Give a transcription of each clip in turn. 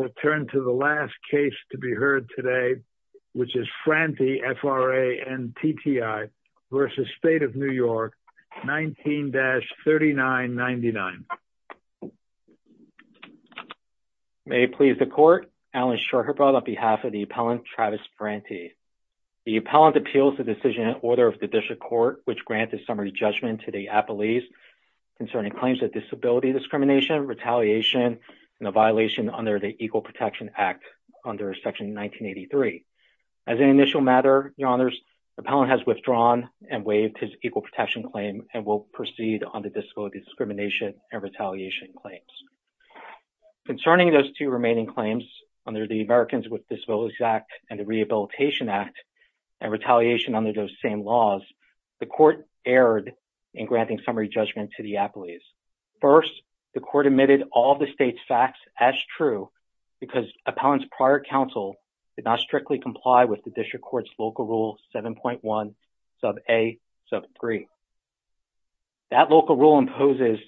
19-3999 May it please the court, Alan Shorherbot on behalf of the appellant, Travis Frantti. The appellant appeals the decision in order of the District Court, which granted summary judgment to the appellees concerning claims of disability discrimination, retaliation and a violation under the Equal Protection Act under Section 1983. As an initial matter, your honors, the appellant has withdrawn and waived his equal protection claim and will proceed on the disability discrimination and retaliation claims. Concerning those two remaining claims under the Americans with Disabilities Act and the Rehabilitation Act and retaliation under those same laws, the court erred in granting summary judgment to the appellees. First, the court admitted all of the state's facts as true because appellant's prior counsel did not strictly comply with the District Court's local rule 7.1 sub a sub 3. That local rule imposes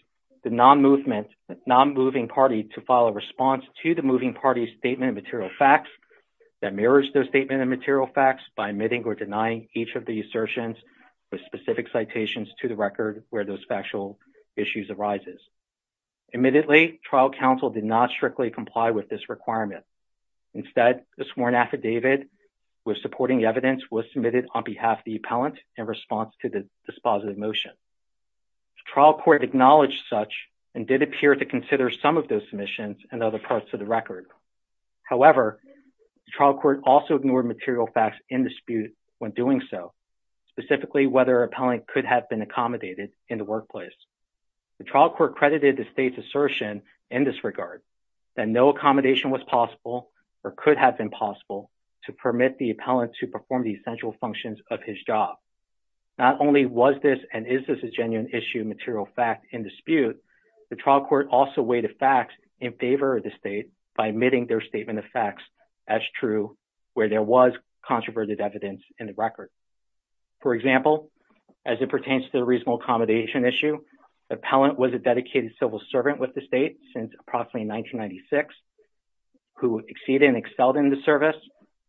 the non-moving party to file a response to the moving party's statement of material facts that mirrors their statement of material facts by admitting or denying each of the assertions with specific citations to the record where those factual issues of the record arises. Admittedly, trial counsel did not strictly comply with this requirement. Instead, the sworn affidavit with supporting evidence was submitted on behalf of the appellant in response to the dispositive motion. Trial court acknowledged such and did appear to consider some of those submissions and other parts of the record. However, the trial court also ignored material facts in dispute when doing so, specifically whether appellant could have been accommodated in the workplace. The trial court credited the state's assertion in this regard that no accommodation was possible or could have been possible to permit the appellant to perform the essential functions of his job. Not only was this and is this a genuine issue of material fact in dispute, the trial court also weighed the facts in favor of the state by admitting their statement of facts as true where there was controverted evidence in the record. For example, as it pertains to the reasonable accommodation issue, appellant was a dedicated civil servant with the state since approximately 1996 who exceeded and excelled in the service.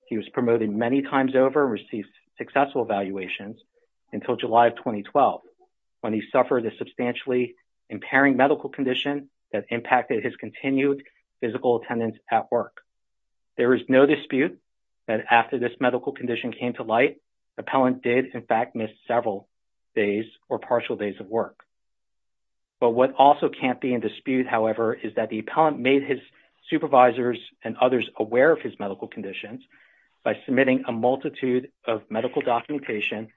He was promoted many times over and received successful evaluations until July of 2012 when he suffered a substantially impairing medical condition that impacted his continued physical attendance at work. There is no dispute that after this medical condition came to light, appellant did in fact miss several days or partial days of work. But what also can't be in dispute, however, is that the appellant made his supervisors and others aware of his medical conditions by submitting a multitude of medical documentation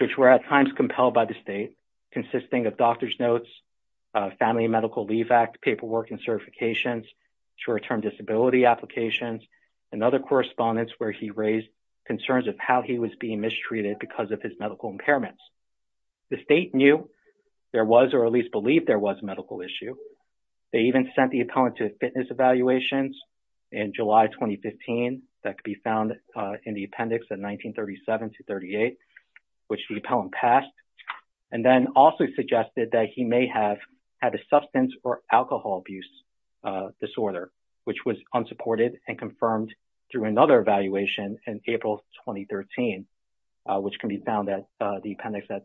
which were at times compelled by the state consisting of doctor's notes, family medical leave act paperwork and certifications, short-term disability applications, and other correspondence where he raised concerns of how he was being mistreated because of his medical impairments. The state knew there was or at least believed there was a medical issue. They even sent the appellant to fitness evaluations in July 2015 that could be found in the appendix in 1937 to 38 which the appellant passed and then also suggested that he may have had a substance or alcohol abuse disorder which was unsupported and confirmed through another evaluation in April 2013 which can be found at the appendix at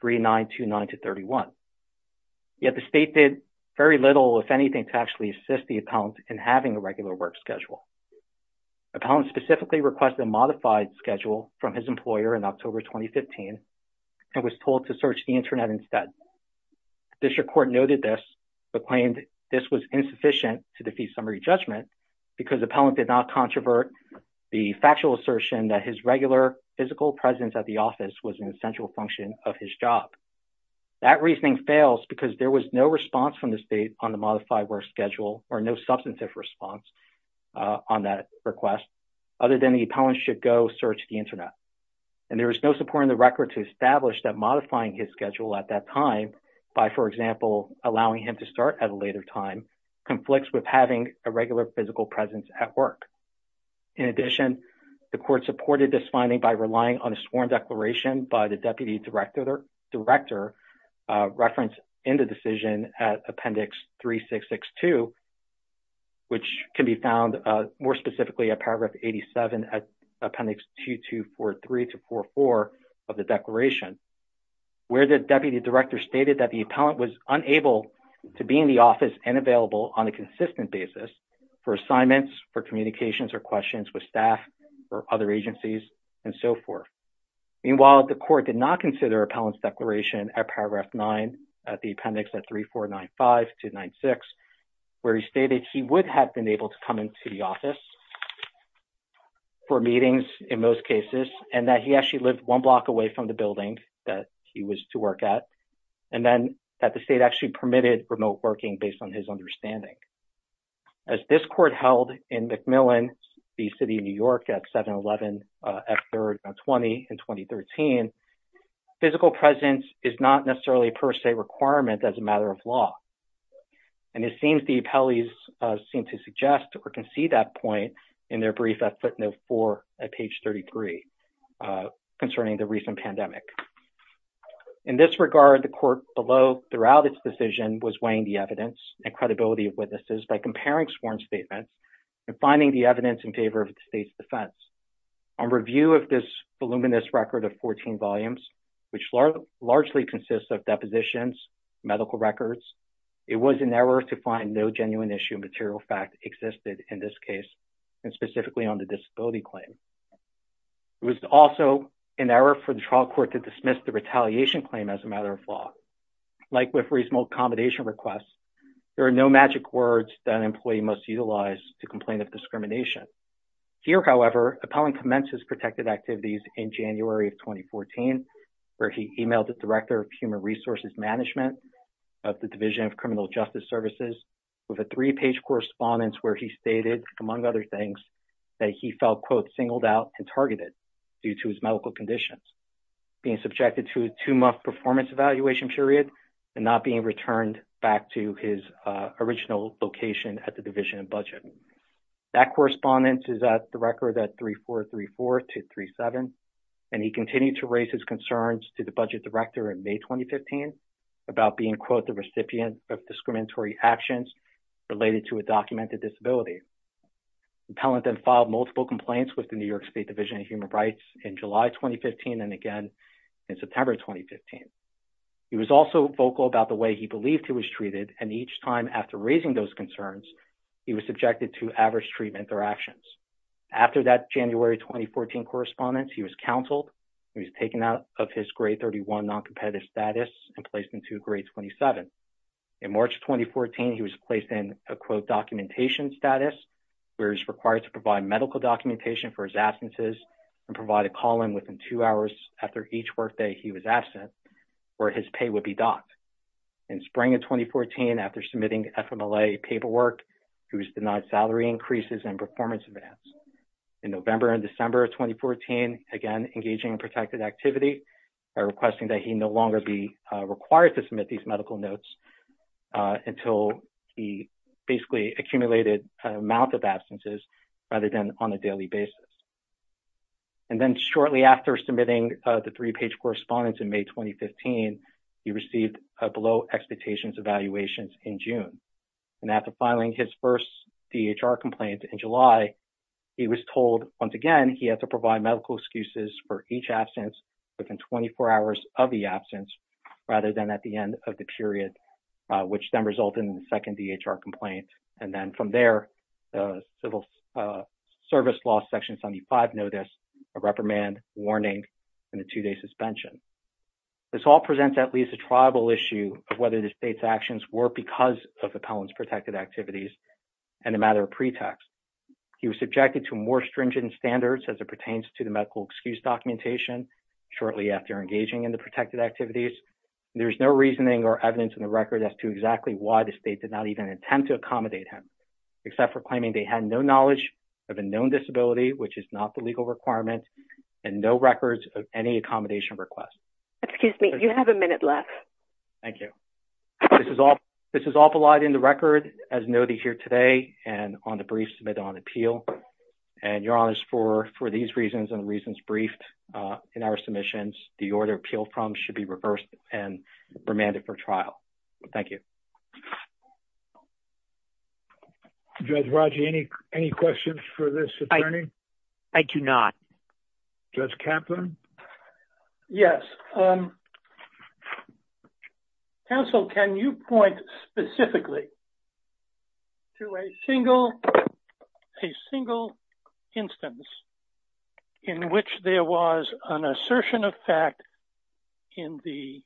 3929 to 31. Yet the state did very little, if anything, to actually assist the appellant in having a regular work schedule. Appellant specifically requested a modified schedule from his employer in October 2015 and was told to search the internet instead. District Court noted this but claimed this was insufficient to defeat summary judgment because the appellant did not controvert the factual assertion that his regular physical presence at the office was an essential function of his job. That reasoning fails because there was no response from the state on the modified work schedule or no substantive response on that request other than the appellant should go search the internet and there was no support in the record to establish that modifying his schedule at that time by, for example, allowing him to start at a later time conflicts with having a regular physical presence at work. In addition, the court supported this finding by relying on a sworn declaration by the Deputy Director referenced in the decision at appendix 3662 which can be found more specifically at paragraph 87 at appendix 2243 to 2244 of the declaration where the Deputy Director stated that the appellant was unable to be in the office and available on a consistent basis for assignments, for communications or questions with staff or other agencies and so forth. Meanwhile, the court did not consider appellant's declaration at paragraph 9 at the appendix at 3495-296 where he stated he would have been able to come into the office for meetings in most cases and that he actually lived one block away from the building that he was to work at and then that the state actually permitted remote working based on his understanding. As this court held in McMillan, the city of New York at 7-11-F3-20 in 2013, physical presence is not necessarily a per se requirement as a matter of law. And it seems the appellees seem to suggest or concede that point in their brief at footnote four at page 33 concerning the recent pandemic. In this regard, the court below throughout its decision was weighing the evidence and credibility of witnesses by comparing sworn statements and finding the evidence in favor of the state's defense. On review of this voluminous record of 14 volumes, which largely consists of depositions, medical records, it was an error to find no genuine issue material fact existed in this case and specifically on the disability claim. It was also an error for the trial court to dismiss the retaliation claim as a matter of law. Like with reasonable accommodation requests, there are no magic words that an employee must utilize to complain of discrimination. Here, however, Appellant commenced his protected activities in January of 2014, where he emailed the Director of Human Resources Management of the Division of Criminal Justice Services with a three-page correspondence where he stated, among other things, that he felt, quote, singled out and targeted due to his medical conditions, being subjected to a two-month performance evaluation period, and not being returned back to his original location at the Division of Budget. That correspondence is at the record at 3434 to 37, and he continued to raise his concerns to the Budget Director in May 2015 about being, quote, the recipient of discriminatory actions related to a documented disability. Appellant then filed multiple complaints with the New York State Division of Human Rights in July 2015 and again in September 2015. He was also vocal about the way he believed he was treated, and each time after raising those concerns, he was subjected to average treatment or actions. After that January 2014 correspondence, he was counseled, and he was taken out of his grade 31 noncompetitive status and placed into grade 27. In March 2014, he was placed in a, quote, documentation status, where he was required to provide medical documentation for his absences and provide a call-in within two hours after each workday he was absent, where his pay would be docked. In spring of 2014, after submitting the FMLA paperwork, he was denied salary increases and performance advance. In November and December of 2014, again, engaging in protected activity by requesting that he no longer be required to submit these medical notes until he basically accumulated an amount of absences rather than on a daily basis. And then shortly after submitting the three-page correspondence in May 2015, he received a below-expectations evaluation in June, and after filing his first DHR complaint in July, he was told once again he had to provide medical excuses for each absence within 24 hours of the absence rather than at the end of the period, which then resulted in the second notice, a reprimand, warning, and a two-day suspension. This all presents at least a tribal issue of whether the state's actions were because of Appellant's protected activities and a matter of pretext. He was subjected to more stringent standards as it pertains to the medical excuse documentation shortly after engaging in the protected activities. There's no reasoning or evidence in the record as to exactly why the state did not even attempt to accommodate him, except for claiming they had no knowledge of a known disability, which is not the legal requirement, and no records of any accommodation request. Excuse me. You have a minute left. Thank you. This is all provided in the record as noted here today and on the brief submitted on appeal. And Your Honors, for these reasons and the reasons briefed in our submissions, the order appealed from should be reversed and remanded for trial. Thank you. Judge Rodger, any questions for this attorney? I do not. Judge Kaplan? Yes. Counsel, can you point specifically to a single instance in which there was an assertion of fact in the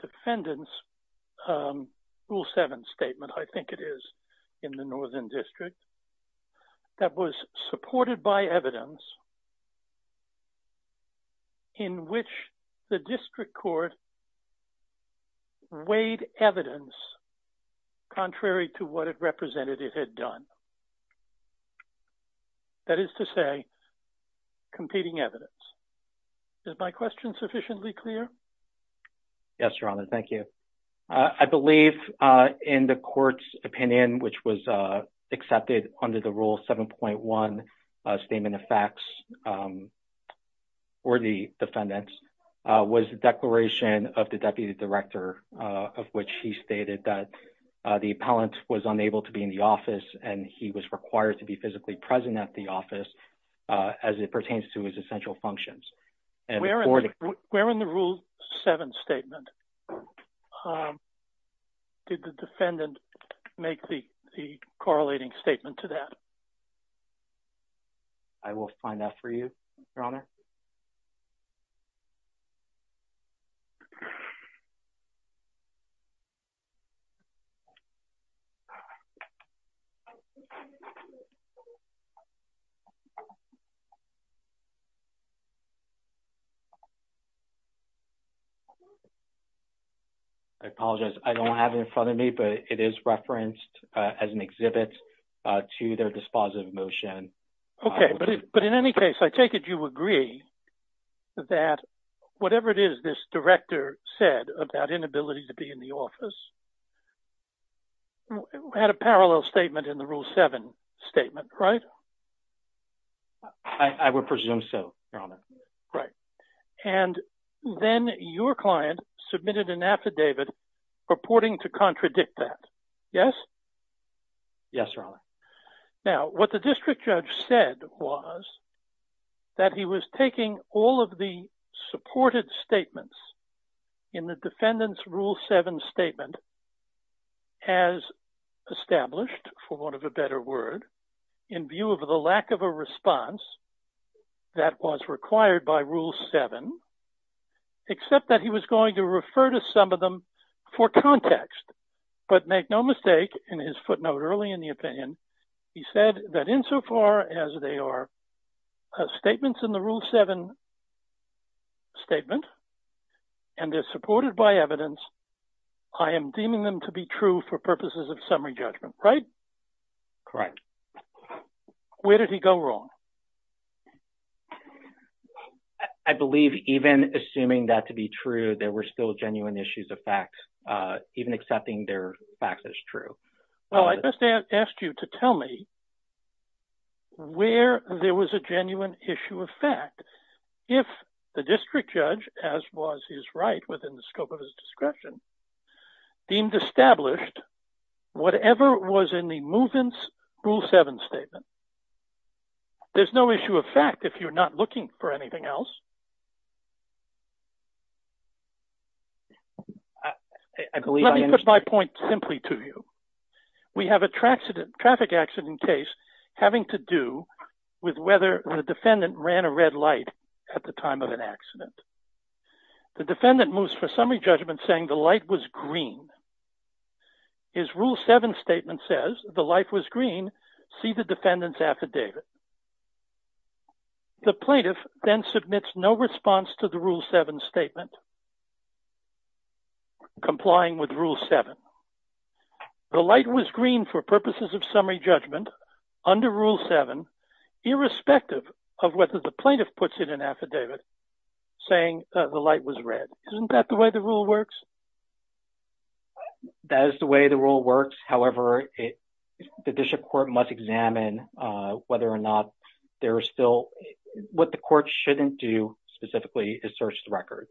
defendant's Rule 7 statement, I think it is, in the Northern District, that was supported by evidence in which the district court weighed evidence contrary to what a representative had done? That is to say, competing evidence. Is my question sufficiently clear? Yes, Your Honor. Thank you. I believe in the court's opinion, which was accepted under the Rule 7.1 statement of facts for the defendants, was the declaration of the Deputy Director, of which he stated that the appellant was unable to be in the office and he was required to be physically present at the office as it pertains to his essential functions. Where in the Rule 7 statement did the defendant make the correlating statement to that? I will find out for you, Your Honor. I apologize, I don't have it in front of me, but it is referenced as an exhibit to their dispositive motion. Okay. But in any case, I take it you agree that whatever it is this director said about inability to be in the office had a parallel statement in the Rule 7 statement, right? I would presume so, Your Honor. Right. And then your client submitted an affidavit purporting to contradict that. Yes? Yes, Your Honor. Now what the district judge said was that he was taking all of the supported statements in the defendant's Rule 7 statement as established, for want of a better word, in view of the lack of a response that was required by Rule 7, except that he was going to refer to some of them for context. But make no mistake, in his footnote early in the opinion, he said that insofar as they are statements in the Rule 7 statement, and they're supported by evidence, I am deeming them to be true for purposes of summary judgment, right? Correct. Where did he go wrong? I believe even assuming that to be true, there were still genuine issues of facts, even accepting their facts as true. Well, I just asked you to tell me where there was a genuine issue of fact. If the district judge, as was his right within the scope of his discretion, deemed established whatever was in the move-in's Rule 7 statement, there's no issue of fact if you're not looking for anything else. Let me put my point simply to you. We have a traffic accident case having to do with whether the defendant ran a red light at the time of an accident. The defendant moves for summary judgment saying the light was green. His Rule 7 statement says the light was green, see the defendant's affidavit. The plaintiff then submits no response to the Rule 7 statement complying with Rule 7. The light was green for purposes of summary judgment under Rule 7, irrespective of whether the plaintiff puts in an affidavit saying the light was red. Isn't that the way the rule works? That is the way the rule works. However, the district court must examine whether or not there is still, what the court shouldn't do specifically is search the record.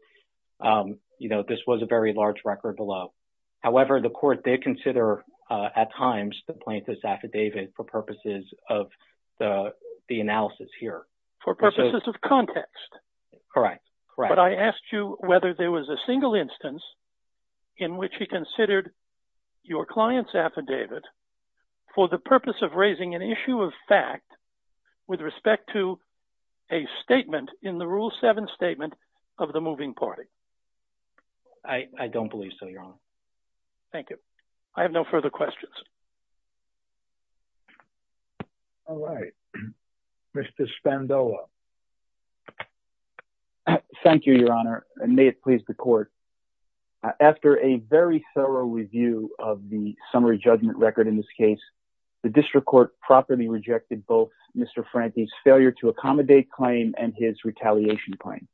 You know, this was a very large record below. However, the court did consider at times the plaintiff's affidavit for purposes of the analysis here. For purposes of context. Correct. But I asked you whether there was a single instance in which he considered your client's affidavit for the purpose of raising an issue of fact with respect to a statement in the Rule 7 statement of the moving party. I don't believe so, Your Honor. Thank you. I have no further questions. All right. Mr. Spandola. Thank you, Your Honor, and may it please the court. After a very thorough review of the summary judgment record in this case, the district court properly rejected both Mr. Frankie's failure to accommodate claim and his retaliation claim.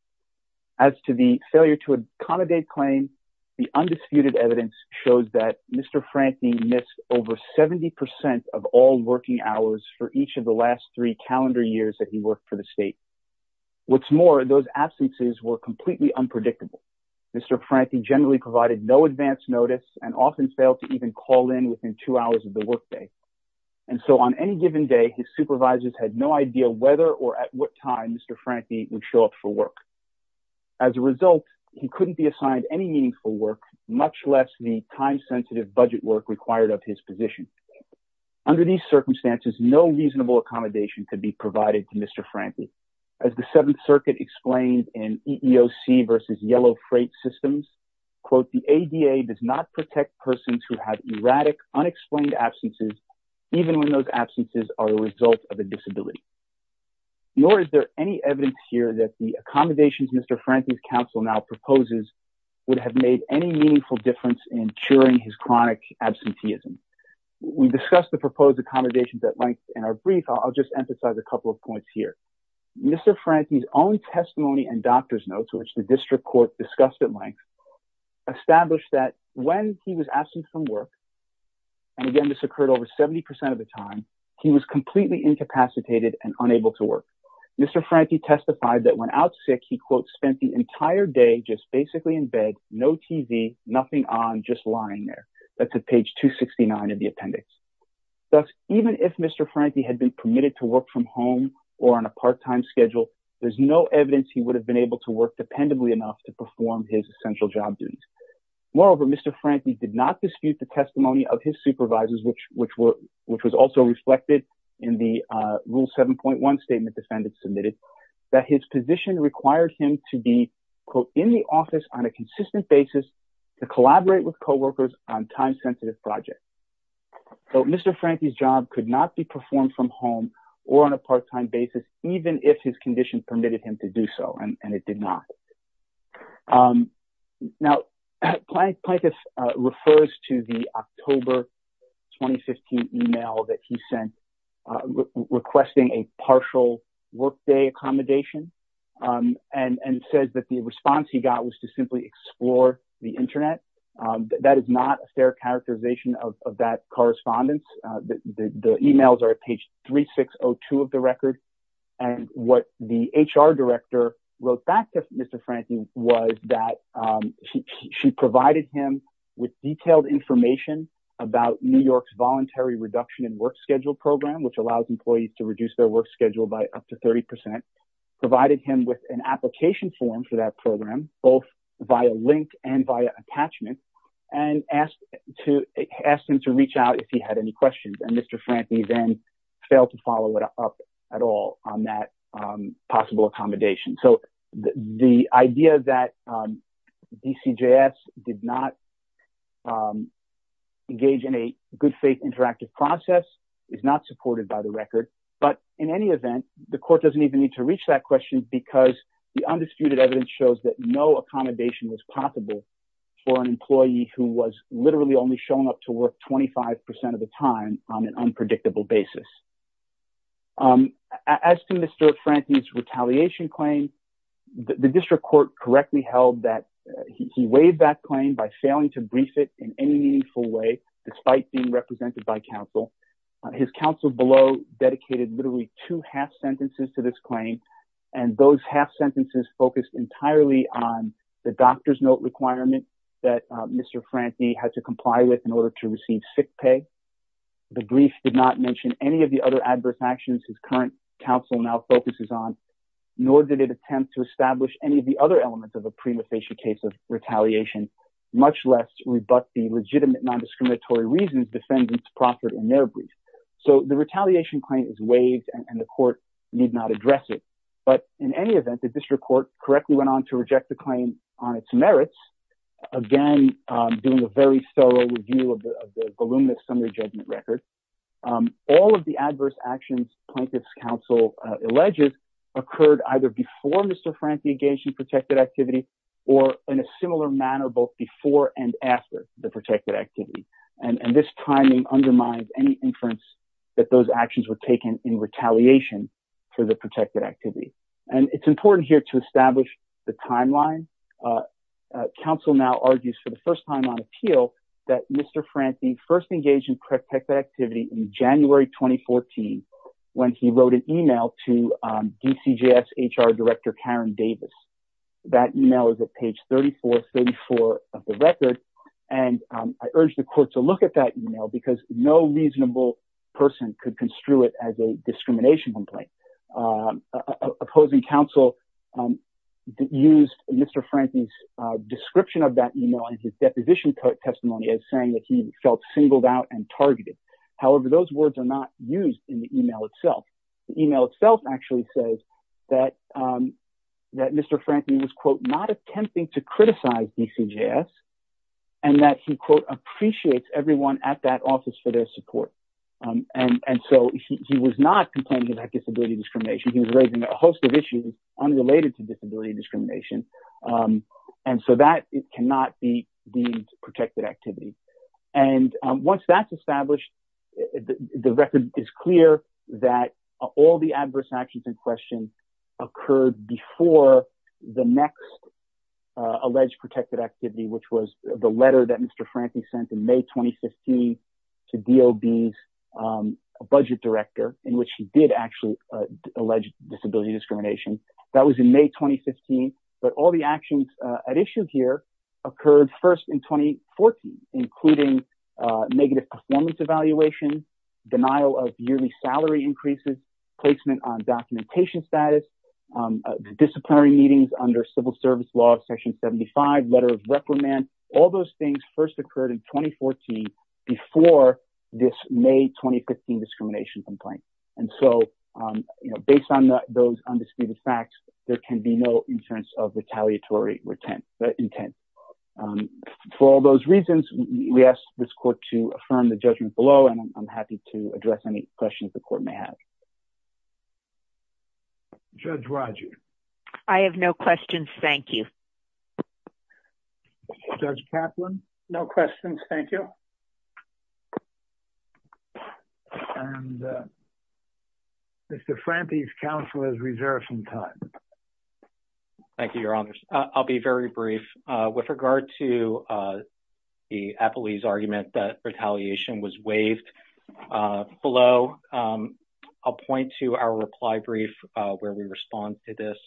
As to the failure to accommodate claim, the undisputed evidence shows that Mr. Frankie missed over 70 percent of all working hours for each of the last three calendar years that he worked for the state. What's more, those absences were completely unpredictable. Mr. Frankie generally provided no advance notice and often failed to even call in within two hours of the workday. And so on any given day, his supervisors had no idea whether or at what time Mr. Frankie would show up for work. As a result, he couldn't be assigned any meaningful work, much less the time-sensitive budget work required of his position. Under these circumstances, no reasonable accommodation could be provided to Mr. Frankie. As the Seventh Circuit explained in EEOC versus Yellow Freight Systems, quote, the ADA does not protect persons who have erratic, unexplained absences, even when those absences are a result of a disability. Nor is there any evidence here that the accommodations Mr. Frankie's counsel now proposes would have made any meaningful difference in curing his chronic absenteeism. We discussed the proposed accommodations at length in our brief. I'll just emphasize a couple of points here. Mr. Frankie's own testimony and doctor's notes, which the district court discussed at length, established that when he was absent from work, and again, this occurred over 70 percent of the time, he was completely incapacitated and unable to work. Mr. Frankie testified that when out sick, he, quote, spent the entire day just basically in bed, no TV, nothing on, just lying there. That's at page 269 of the appendix. Thus, even if Mr. Frankie had been permitted to work from home or on a part-time schedule, there's no evidence he would have been able to work dependably enough to perform his essential job duties. Moreover, Mr. Frankie did not dispute the testimony of his supervisors, which was also submitted, that his position required him to be, quote, in the office on a consistent basis to collaborate with co-workers on time-sensitive projects. So, Mr. Frankie's job could not be performed from home or on a part-time basis, even if his condition permitted him to do so, and it did not. Now, Planketh refers to the October 2015 email that he sent requesting a partial workday accommodation, and says that the response he got was to simply explore the Internet. That is not a fair characterization of that correspondence. The emails are at page 3602 of the record, and what the HR director wrote back to Mr. Frankie was that she provided him with detailed information about New York's Voluntary Reduction in Work Schedule program, which allows employees to reduce their work schedule by up to 30%, provided him with an application form for that program, both via link and via attachment, and asked him to reach out if he had any questions, and Mr. Frankie then failed to follow it up at all on that possible accommodation. So, the idea that DCJS did not engage in a good-faith interactive process is not supported by the record, but in any event, the court doesn't even need to reach that question because the undisputed evidence shows that no accommodation was possible for an employee who was literally only shown up to work 25% of the time on an unpredictable basis. As to Mr. Frankie's retaliation claim, the district court correctly held that he waived that claim by failing to brief it in any meaningful way, despite being represented by counsel. His counsel below dedicated literally two half sentences to this claim, and those half sentences focused entirely on the doctor's note requirement that Mr. Frankie had to comply with in order to receive sick pay. The brief did not mention any of the other adverse actions his current counsel now focuses on, nor did it attempt to establish any of the other elements of a prima facie case of retaliation, much less rebut the legitimate non-discriminatory reasons defendants proffered in their brief. So, the retaliation claim is waived and the court need not address it, but in any event, the district court correctly went on to reject the claim on its merits, again, doing a very thorough review of the voluminous summary judgment record. All of the adverse actions plaintiff's counsel alleges occurred either before Mr. Frankie engaged in protected activity or in a similar manner both before and after the protected activity, and this timing undermines any inference that those actions were taken in retaliation for the protected activity, and it's important here to establish the timeline. Counsel now argues for the first time on appeal that Mr. Frankie first engaged in protected activity in January 2014 when he wrote an email to DCJS HR Director Karen Davis. That email is at page 3434 of the record, and I urge the court to look at that email because no reasonable person could construe it as a discrimination complaint. Opposing counsel used Mr. Frankie's description of that email in his deposition testimony as saying that he felt singled out and targeted. However, those words are not used in the email itself. The email itself actually says that Mr. Frankie was, quote, not attempting to criticize DCJS and that he, quote, appreciates everyone at that office for their support, and so he was not complaining about disability discrimination. He was raising a host of issues unrelated to disability discrimination, and so that cannot be deemed protected activity, and once that's established, the record is clear that all the adverse actions in question occurred before the next alleged protected activity, which was the letter that Mr. Frankie sent in May 2015 to DOD's budget director in which he did actually allege disability discrimination. That was in May 2015, but all the actions at issue here occurred first in 2014, including negative performance evaluation, denial of yearly salary increases, placement on documentation status, disciplinary meetings under civil service law section 75, letter of reprimand. All those things first occurred in 2014 before this May 2015 discrimination complaint, and so based on those undisputed facts, there can be no insurance of retaliatory intent. For all those reasons, we ask this court to affirm the judgment below, and I'm happy to address any questions the court may have. Judge Rodgers? I have no questions. Thank you. Judge Kaplan? No questions. Thank you. And Mr. Frankie's counsel has reserved some time. Thank you, Your Honors. I'll be very brief. With regard to the appellee's argument that retaliation was waived below, I'll point to our reply brief where we respond to this,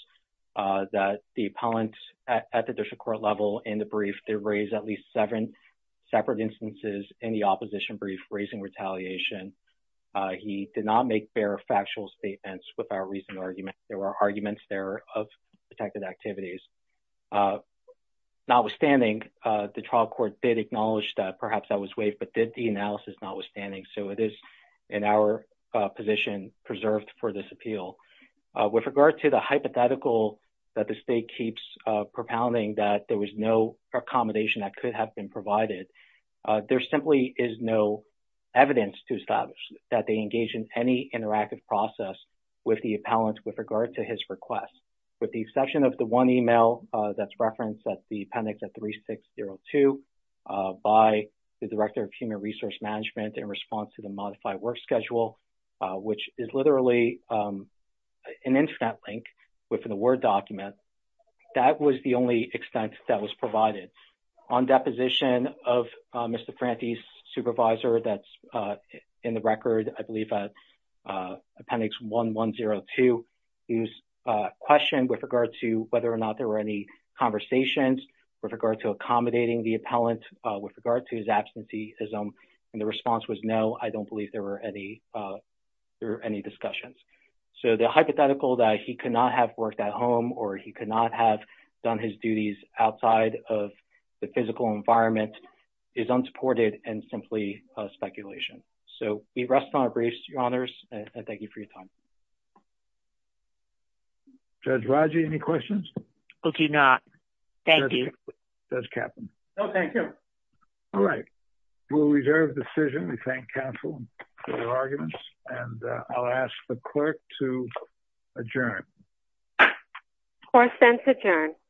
that the appellant at the district court level in the brief did raise at least seven separate instances in the opposition brief raising retaliation. He did not make fair factual statements with our recent argument. There were arguments there of protected activities. Notwithstanding, the trial court did acknowledge that perhaps that was waived, but did the analysis notwithstanding, so it is in our position preserved for this appeal. With regard to the hypothetical that the state keeps propounding that there was no accommodation that could have been provided, there simply is no evidence to establish that they engage in any interactive process with the appellant with regard to his request. With the exception of the one email that's referenced, that's the appendix of 3602, by the Director of Human Resource Management in response to the modified work schedule, which is literally an internet link within a Word document, that was the only extent that was provided. On deposition of Mr. Franti's supervisor, that's in the record, I believe appendix 1102, he was questioned with regard to whether or not there were any conversations with regard to accommodating the appellant with regard to his absenteeism, and the response was, no, I don't believe there were any discussions. So the hypothetical that he could not have worked at home or he could not have done his duties outside of the physical environment is unsupported and simply speculation. So we rest on our brace, Your Honors, and thank you for your time. Judge Rodger, any questions? I do not. Thank you. Judge Kaplan? No, thank you. All right. We'll reserve the decision. We thank counsel for their arguments, and I'll ask the clerk to adjourn. Court sends adjourn.